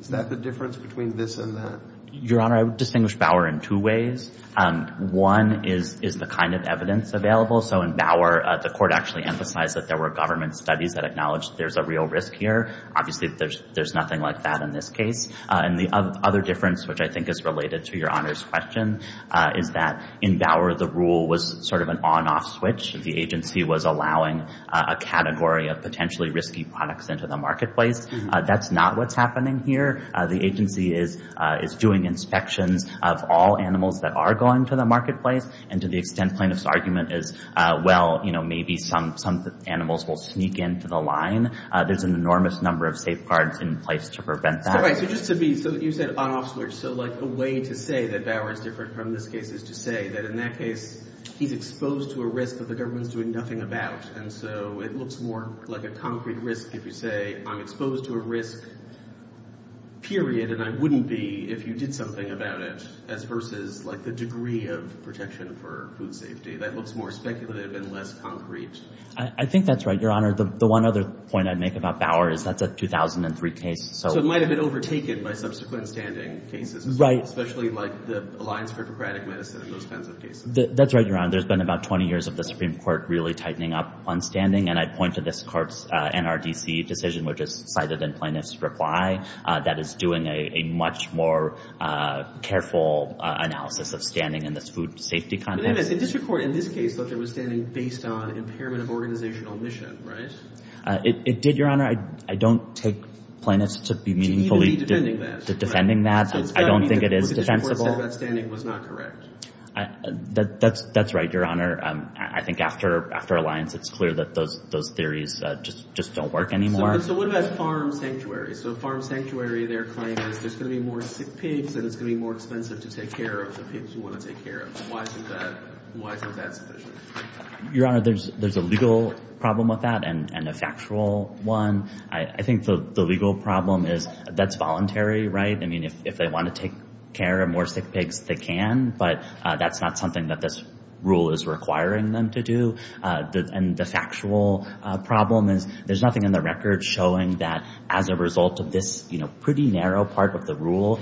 Is that the difference between this and that? Your Honor, I would distinguish Bauer in two ways. One is the kind of evidence available. So in Bauer, the court actually emphasized that there were government studies that acknowledged there's a real risk here. Obviously, there's nothing like that in this case. And the other difference, which I think is related to Your Honor's question, is that in Bauer the rule was sort of an on-off switch. The agency was allowing a category of potentially risky products into the marketplace. That's not what's happening here. The agency is doing inspections of all animals that are going to the marketplace, and to the extent plaintiff's argument is, well, maybe some animals will sneak into the line, there's an enormous number of safeguards in place to prevent that. All right. So just to be—so you said on-off switch. So like a way to say that Bauer is different from this case is to say that in that case he's exposed to a risk that the government is doing nothing about, and so it looks more like a concrete risk if you say I'm exposed to a risk, period, and I wouldn't be if you did something about it as versus like the degree of protection for food safety. That looks more speculative and less concrete. I think that's right, Your Honor. The one other point I'd make about Bauer is that's a 2003 case, so— So it might have been overtaken by subsequent standing cases. Right. Especially like the Alliance for Bureaucratic Medicine and those kinds of cases. That's right, Your Honor. There's been about 20 years of the Supreme Court really tightening up on standing, and I point to this court's NRDC decision, which is cited in Plaintiff's reply, that is doing a much more careful analysis of standing in this food safety context. But it is. The district court in this case thought there was standing based on impairment of organizational mission, right? It did, Your Honor. I don't take plaintiffs to be meaningfully— To even be defending that. —to defending that. I don't think it is defensible. So it's telling me that what the district court said about standing was not correct. That's right, Your Honor. I think after Alliance, it's clear that those theories just don't work anymore. So what about farm sanctuaries? So farm sanctuary, their claim is there's going to be more sick pigs and it's going to be more expensive to take care of the pigs you want to take care of. Why isn't that sufficient? Your Honor, there's a legal problem with that and a factual one. I think the legal problem is that's voluntary, right? I mean, if they want to take care of more sick pigs, they can. But that's not something that this rule is requiring them to do. And the factual problem is there's nothing in the record showing that as a result of this pretty narrow part of the rule,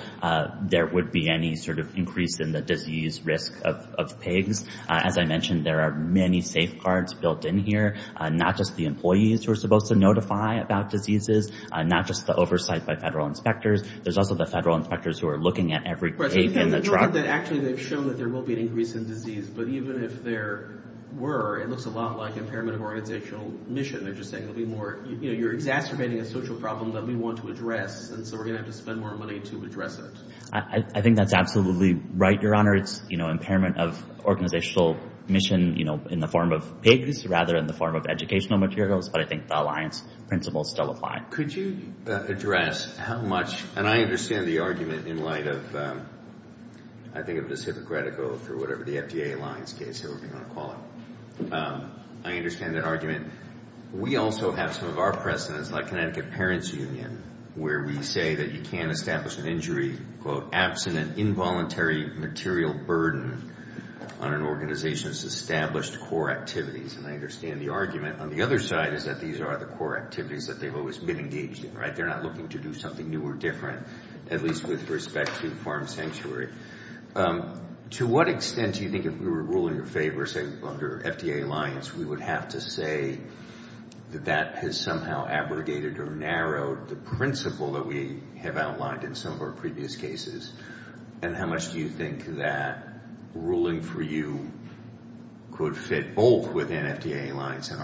there would be any sort of increase in the disease risk of pigs. As I mentioned, there are many safeguards built in here, not just the employees who are supposed to notify about diseases, not just the oversight by federal inspectors. There's also the federal inspectors who are looking at every pig in the truck. Not that actually they've shown that there will be an increase in disease, but even if there were, it looks a lot like impairment of organizational mission. They're just saying you're exacerbating a social problem that we want to address, and so we're going to have to spend more money to address it. I think that's absolutely right, Your Honor. It's impairment of organizational mission in the form of pigs rather than the form of educational materials, but I think the alliance principles still apply. Could you address how much, and I understand the argument in light of, I think of it as hypocritical for whatever the FDA alliance case, however you want to call it. I understand that argument. We also have some of our precedents, like Connecticut Parents Union, where we say that you can't establish an injury, quote, absent an involuntary material burden on an organization's established core activities. And I understand the argument. On the other side is that these are the core activities that they've always been engaged in, right? They're not looking to do something new or different, at least with respect to farm sanctuary. To what extent do you think if we were ruling in favor, say under FDA alliance, we would have to say that that has somehow abrogated or narrowed the principle that we have outlined in some of our previous cases? And how much do you think that ruling for you could fit both within FDA alliance and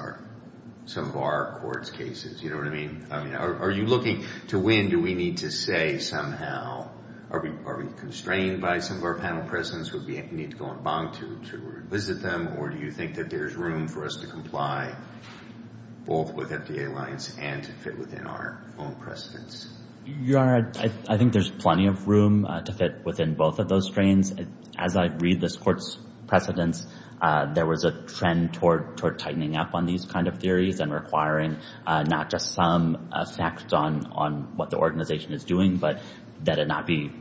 some of our court's cases? You know what I mean? Are you looking to when do we need to say somehow, are we constrained by some of our panel precedents, would we need to go on bond to revisit them, or do you think that there's room for us to comply both with FDA alliance and to fit within our own precedents? Your Honor, I think there's plenty of room to fit within both of those strains. As I read this court's precedents, there was a trend toward tightening up on these kind of theories and requiring not just some effect on what the organization is doing, but that it not be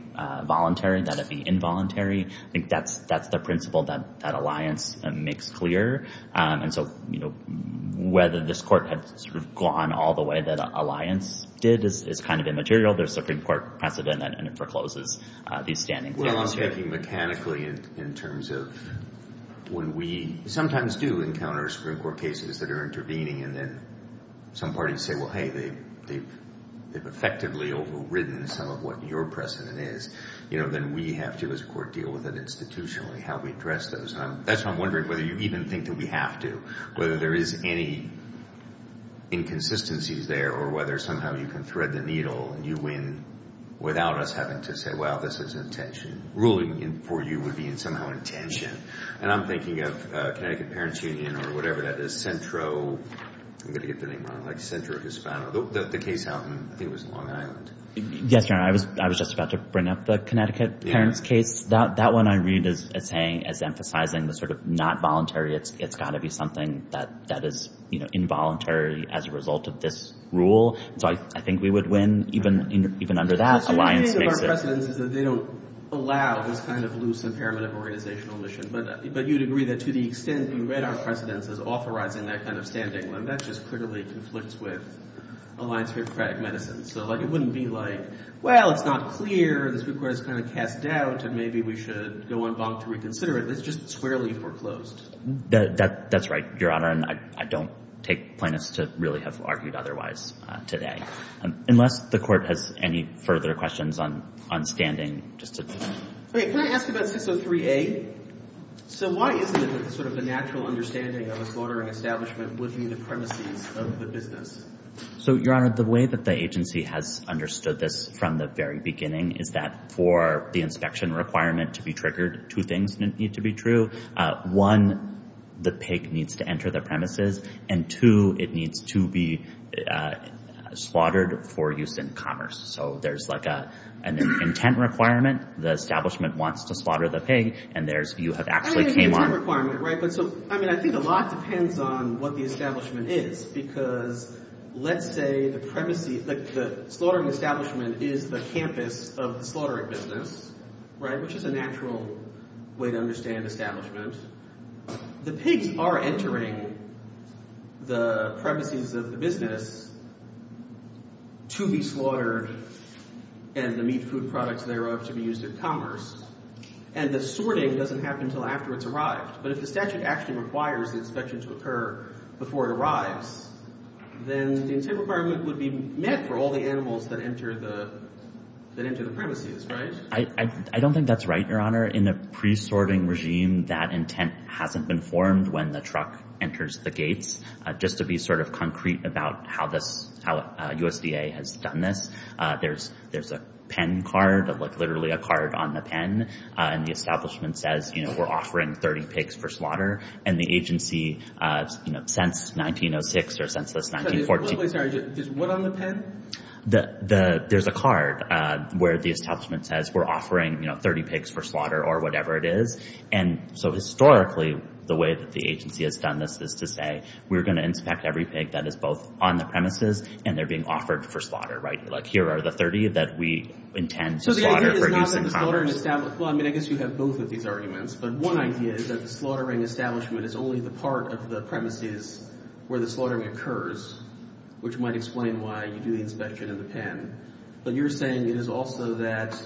voluntary, that it be involuntary. I think that's the principle that alliance makes clear. And so whether this court has sort of gone all the way that alliance did is kind of immaterial. There's a Supreme Court precedent, and it forecloses these standings. Well, I'm thinking mechanically in terms of when we sometimes do encounter Supreme Court cases that are intervening and then some parties say, well, hey, they've effectively overridden some of what your precedent is, then we have to, as a court, deal with it institutionally, how we address those. That's why I'm wondering whether you even think that we have to, whether there is any inconsistencies there or whether somehow you can thread the needle and you win without us having to say, well, this is intention. Ruling for you would be somehow intention. And I'm thinking of Connecticut Parents Union or whatever that is, Centro. I'm going to get the name wrong, like Centro Hispano. The case out in, I think it was Long Island. Yes, Your Honor. I was just about to bring up the Connecticut Parents case. That one I read as saying, as emphasizing the sort of not voluntary. It's got to be something that is involuntary as a result of this rule. So I think we would win even under that. The thing with our precedents is that they don't allow this kind of loose impairment of organizational mission. But you'd agree that to the extent we read our precedents as authorizing that kind of standing, well, that just critically conflicts with Alliance for Democratic Medicine. So it wouldn't be like, well, it's not clear. This report is kind of cast doubt. And maybe we should go on bonk to reconsider it. Let's just squarely foreclosed. That's right, Your Honor. And I don't take plaintiffs to really have argued otherwise today. Unless the Court has any further questions on standing. Can I ask about 603A? So why isn't it that sort of a natural understanding of a fluttering establishment would be the premises of the business? So, Your Honor, the way that the agency has understood this from the very beginning is that for the inspection requirement to be triggered, two things need to be true. One, the pig needs to enter the premises. And two, it needs to be slaughtered for use in commerce. So there's like an intent requirement. The establishment wants to slaughter the pig. And you have actually came on. I mean, I think a lot depends on what the establishment is. Because let's say the slaughtering establishment is the campus of the slaughtering business, which is a natural way to understand establishment. The pigs are entering the premises of the business to be slaughtered and the meat, food, products thereof to be used in commerce. And the sorting doesn't happen until after it's arrived. But if the statute actually requires the inspection to occur before it arrives, then the intent requirement would be met for all the animals that enter the premises, right? I don't think that's right, Your Honor. In the pre-sorting regime, that intent hasn't been formed when the truck enters the gates. Just to be sort of concrete about how this USDA has done this, there's a pen card, like literally a card on the pen. And the establishment says, you know, we're offering 30 pigs for slaughter. And the agency, you know, since 1906 or since this 1914— Wait, sorry. There's one on the pen? There's a card where the establishment says we're offering, you know, 30 pigs for slaughter or whatever it is. And so historically, the way that the agency has done this is to say, we're going to inspect every pig that is both on the premises and they're being offered for slaughter, right? Like here are the 30 that we intend to slaughter for use in commerce. Well, I mean, I guess you have both of these arguments. But one idea is that the slaughtering establishment is only the part of the premises where the slaughtering occurs, which might explain why you do the inspection in the pen. But you're saying it is also that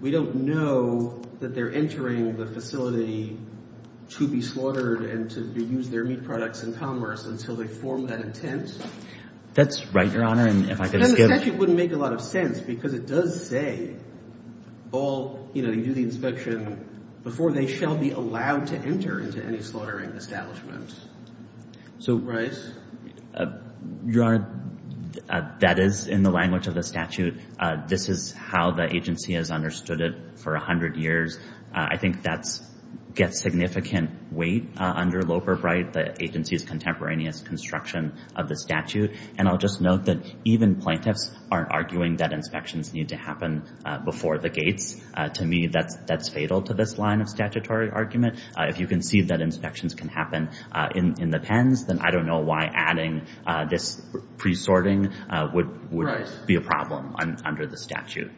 we don't know that they're entering the facility to be slaughtered and to use their meat products in commerce until they form that intent? That's right, Your Honor. And if I could skip— The statute wouldn't make a lot of sense because it does say all, you know, you do the inspection before they shall be allowed to enter into any slaughtering establishment. So, Bryce? Your Honor, that is in the language of the statute. This is how the agency has understood it for a hundred years. I think that gets significant weight under Loeb or Bright, the agency's contemporaneous construction of the statute. And I'll just note that even plaintiffs aren't arguing that inspections need to happen before the gates. To me, that's fatal to this line of statutory argument. If you can see that inspections can happen in the pens, then I don't know why adding this pre-sorting would be a problem under the statute.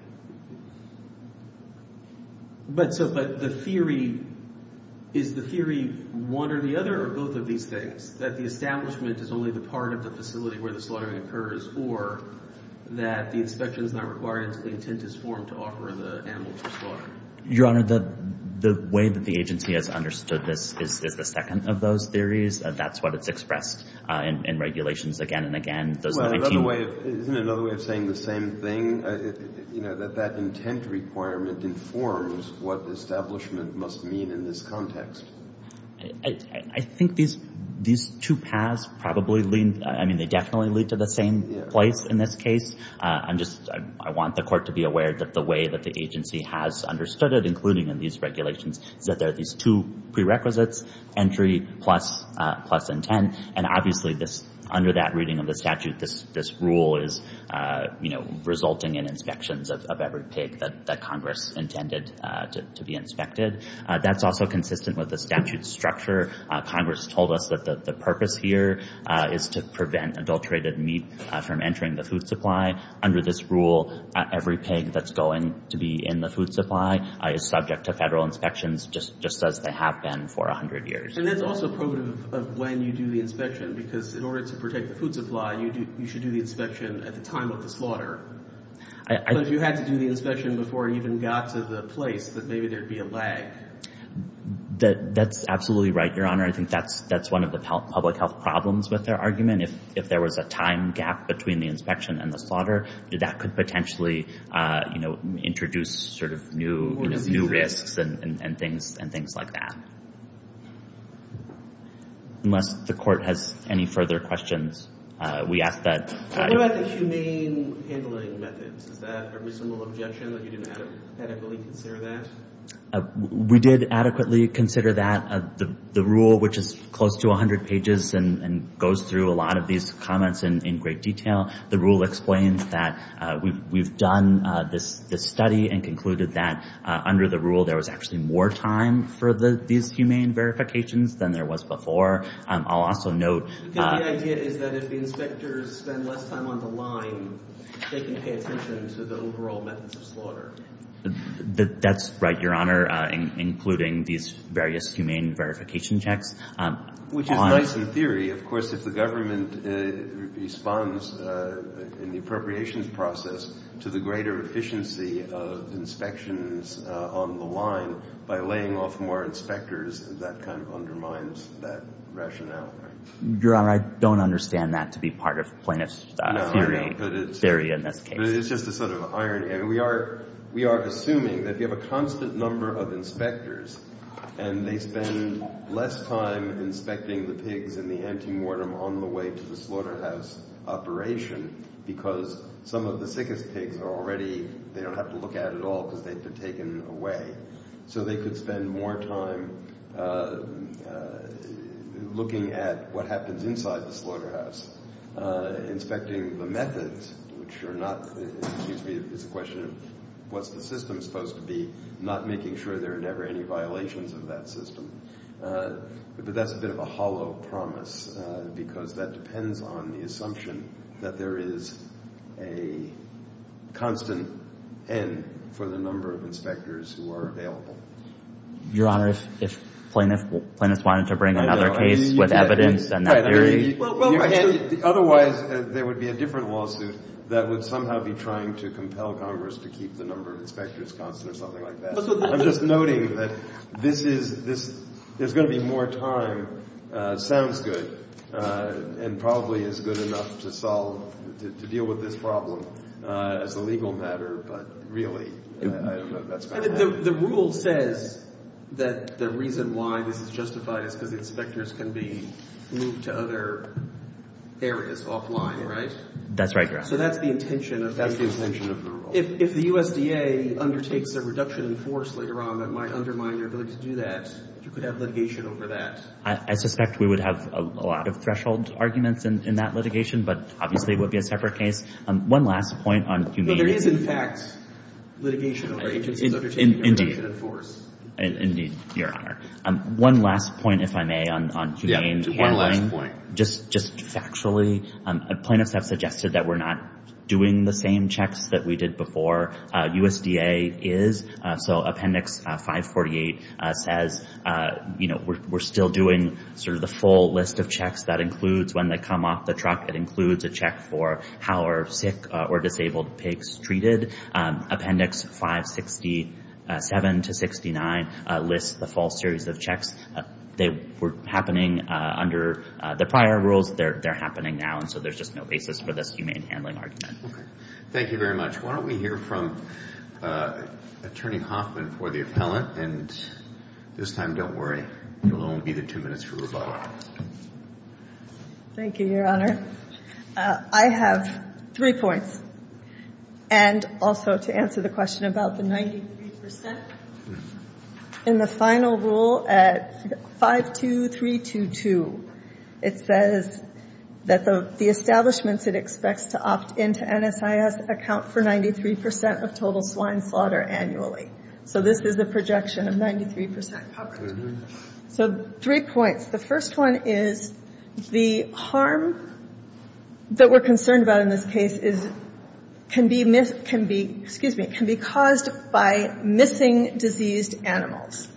But the theory—is the theory one or the other or both of these things, that the establishment is only the part of the facility where the slaughtering occurs or that the inspection is not required until the intent is formed to offer the animals for slaughter? Your Honor, the way that the agency has understood this is the second of those theories. That's what it's expressed in regulations again and again. Isn't it another way of saying the same thing? You know, that that intent requirement informs what establishment must mean in this context. I think these two paths probably lead—I mean, they definitely lead to the same place in this case. I'm just—I want the Court to be aware that the way that the agency has understood it, including in these regulations, is that there are these two prerequisites, entry plus intent. And obviously, under that reading of the statute, this rule is, you know, resulting in inspections of every pig that Congress intended to be inspected. That's also consistent with the statute structure. Congress told us that the purpose here is to prevent adulterated meat from entering the food supply. Under this rule, every pig that's going to be in the food supply is subject to federal inspections, just as they have been for 100 years. And that's also probative of when you do the inspection, because in order to protect the food supply, you should do the inspection at the time of the slaughter. But if you had to do the inspection before it even got to the place, then maybe there'd be a lag. That's absolutely right, Your Honor. I think that's one of the public health problems with their argument. If there was a time gap between the inspection and the slaughter, that could potentially, you know, introduce sort of new risks and things like that. Unless the Court has any further questions, we ask that— What about the humane handling methods? Is that a reasonable objection that you didn't adequately consider that? We did adequately consider that. The rule, which is close to 100 pages and goes through a lot of these comments in great detail, the rule explains that we've done this study and concluded that, under the rule, there was actually more time for these humane verifications than there was before. I'll also note— Because the idea is that if the inspectors spend less time on the line, they can pay attention to the overall methods of slaughter. That's right, Your Honor, including these various humane verification checks. Which is nice in theory. Of course, if the government responds in the appropriations process to the greater efficiency of inspections on the line by laying off more inspectors, that kind of undermines that rationale, right? Your Honor, I don't understand that to be part of plaintiff's theory in this case. But it's just a sort of irony. I mean, we are assuming that if you have a constant number of inspectors and they spend less time inspecting the pigs and the antemortem on the way to the slaughterhouse operation because some of the sickest pigs are already— they don't have to look at it at all because they've been taken away. So they could spend more time looking at what happens inside the slaughterhouse, inspecting the methods, which are not— Excuse me, it's a question of what's the system supposed to be, not making sure there are never any violations of that system. But that's a bit of a hollow promise because that depends on the assumption that there is a constant N for the number of inspectors who are available. Your Honor, if plaintiffs wanted to bring another case with evidence and that theory— Otherwise, there would be a different lawsuit that would somehow be trying to compel Congress to keep the number of inspectors constant or something like that. I'm just noting that this is—there's going to be more time. Sounds good and probably is good enough to solve—to deal with this problem as a legal matter. But really, I don't know if that's— The rule says that the reason why this is justified is because the inspectors can be moved to other areas offline, right? That's right, Your Honor. So that's the intention of the rule. That's the intention of the rule. If the USDA undertakes a reduction in force later on that might undermine their ability to do that, you could have litigation over that. I suspect we would have a lot of threshold arguments in that litigation, but obviously it would be a separate case. One last point on— No, there is, in fact, litigation over agencies undertaking a reduction in force. Indeed, Your Honor. One last point, if I may, on humane handling. Yeah, just one last point. Just factually, plaintiffs have suggested that we're not doing the same checks that we did before. USDA is. So Appendix 548 says, you know, we're still doing sort of the full list of checks. That includes when they come off the truck. It includes a check for how are sick or disabled pigs treated. Appendix 567 to 69 lists the full series of checks. They were happening under the prior rules. They're happening now, and so there's just no basis for this humane handling argument. Thank you very much. Why don't we hear from Attorney Hoffman for the appellant. And this time, don't worry. You'll only be the two minutes for rebuttal. Thank you, Your Honor. I have three points, and also to answer the question about the 93%. In the final rule at 52322, it says that the establishments it expects to opt into NSIS account for 93% of total swine slaughter annually. So this is the projection of 93% coverage. So three points. The first one is the harm that we're concerned about in this case can be caused by missing diseased animals.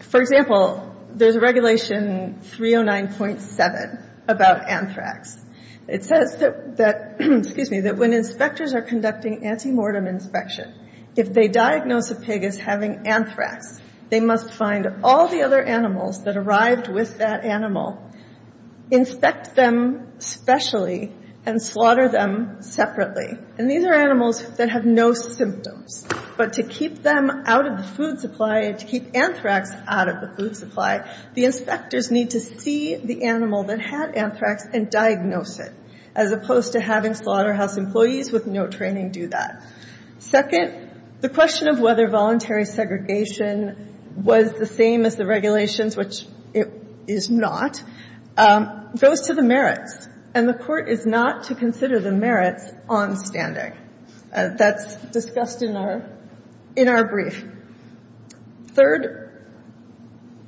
For example, there's a regulation 309.7 about anthrax. It says that when inspectors are conducting anti-mortem inspection, if they diagnose a pig as having anthrax, they must find all the other animals that arrived with that animal, inspect them specially, and slaughter them separately. And these are animals that have no symptoms. But to keep them out of the food supply and to keep anthrax out of the food supply, the inspectors need to see the animal that had anthrax and diagnose it, as opposed to having slaughterhouse employees with no training do that. Second, the question of whether voluntary segregation was the same as the regulations, which it is not, goes to the merits. And the Court is not to consider the merits on standing. That's discussed in our brief. Third,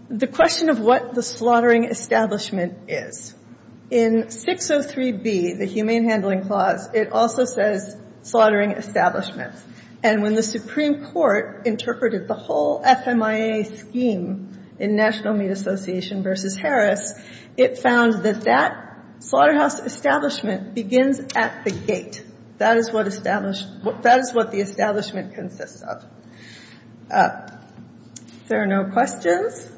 the question of what the slaughtering establishment is. In 603B, the Humane Handling Clause, it also says slaughtering establishment. And when the Supreme Court interpreted the whole FMIA scheme in National Meat Association v. Harris, it found that that slaughterhouse establishment begins at the gate. That is what the establishment consists of. If there are no questions,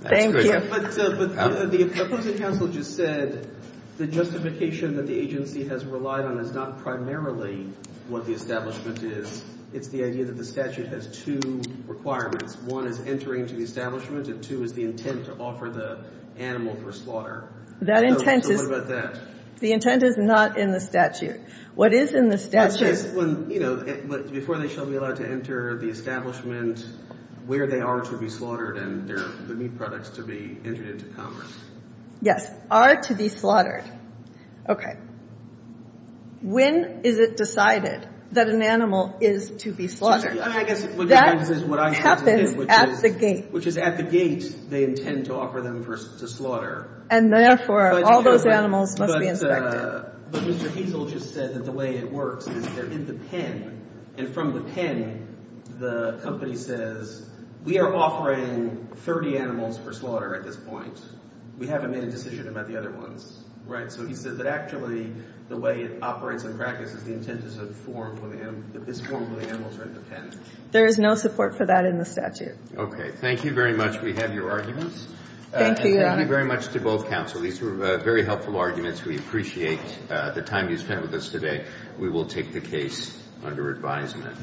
thank you. But the opposing counsel just said the justification that the agency has relied on is not primarily what the establishment is. It's the idea that the statute has two requirements. One is entering to the establishment, and two is the intent to offer the animal for slaughter. So what about that? The intent is not in the statute. What is in the statute— But before they shall be allowed to enter the establishment, where they are to be slaughtered and the meat products to be entered into commerce? Yes. Are to be slaughtered. Okay. When is it decided that an animal is to be slaughtered? That happens at the gate. Which is at the gate they intend to offer them to slaughter. And therefore, all those animals must be inspected. But Mr. Hazel just said that the way it works is they're in the pen. And from the pen, the company says, we are offering 30 animals for slaughter at this point. We haven't made a decision about the other ones. Right? So he said that actually the way it operates in practice is the intent is to form where the animals are in the pen. There is no support for that in the statute. Okay. Thank you very much. We have your arguments. Thank you. Thank you very much to both counsel. These were very helpful arguments. We appreciate the time you spent with us today. We will take the case under advisement.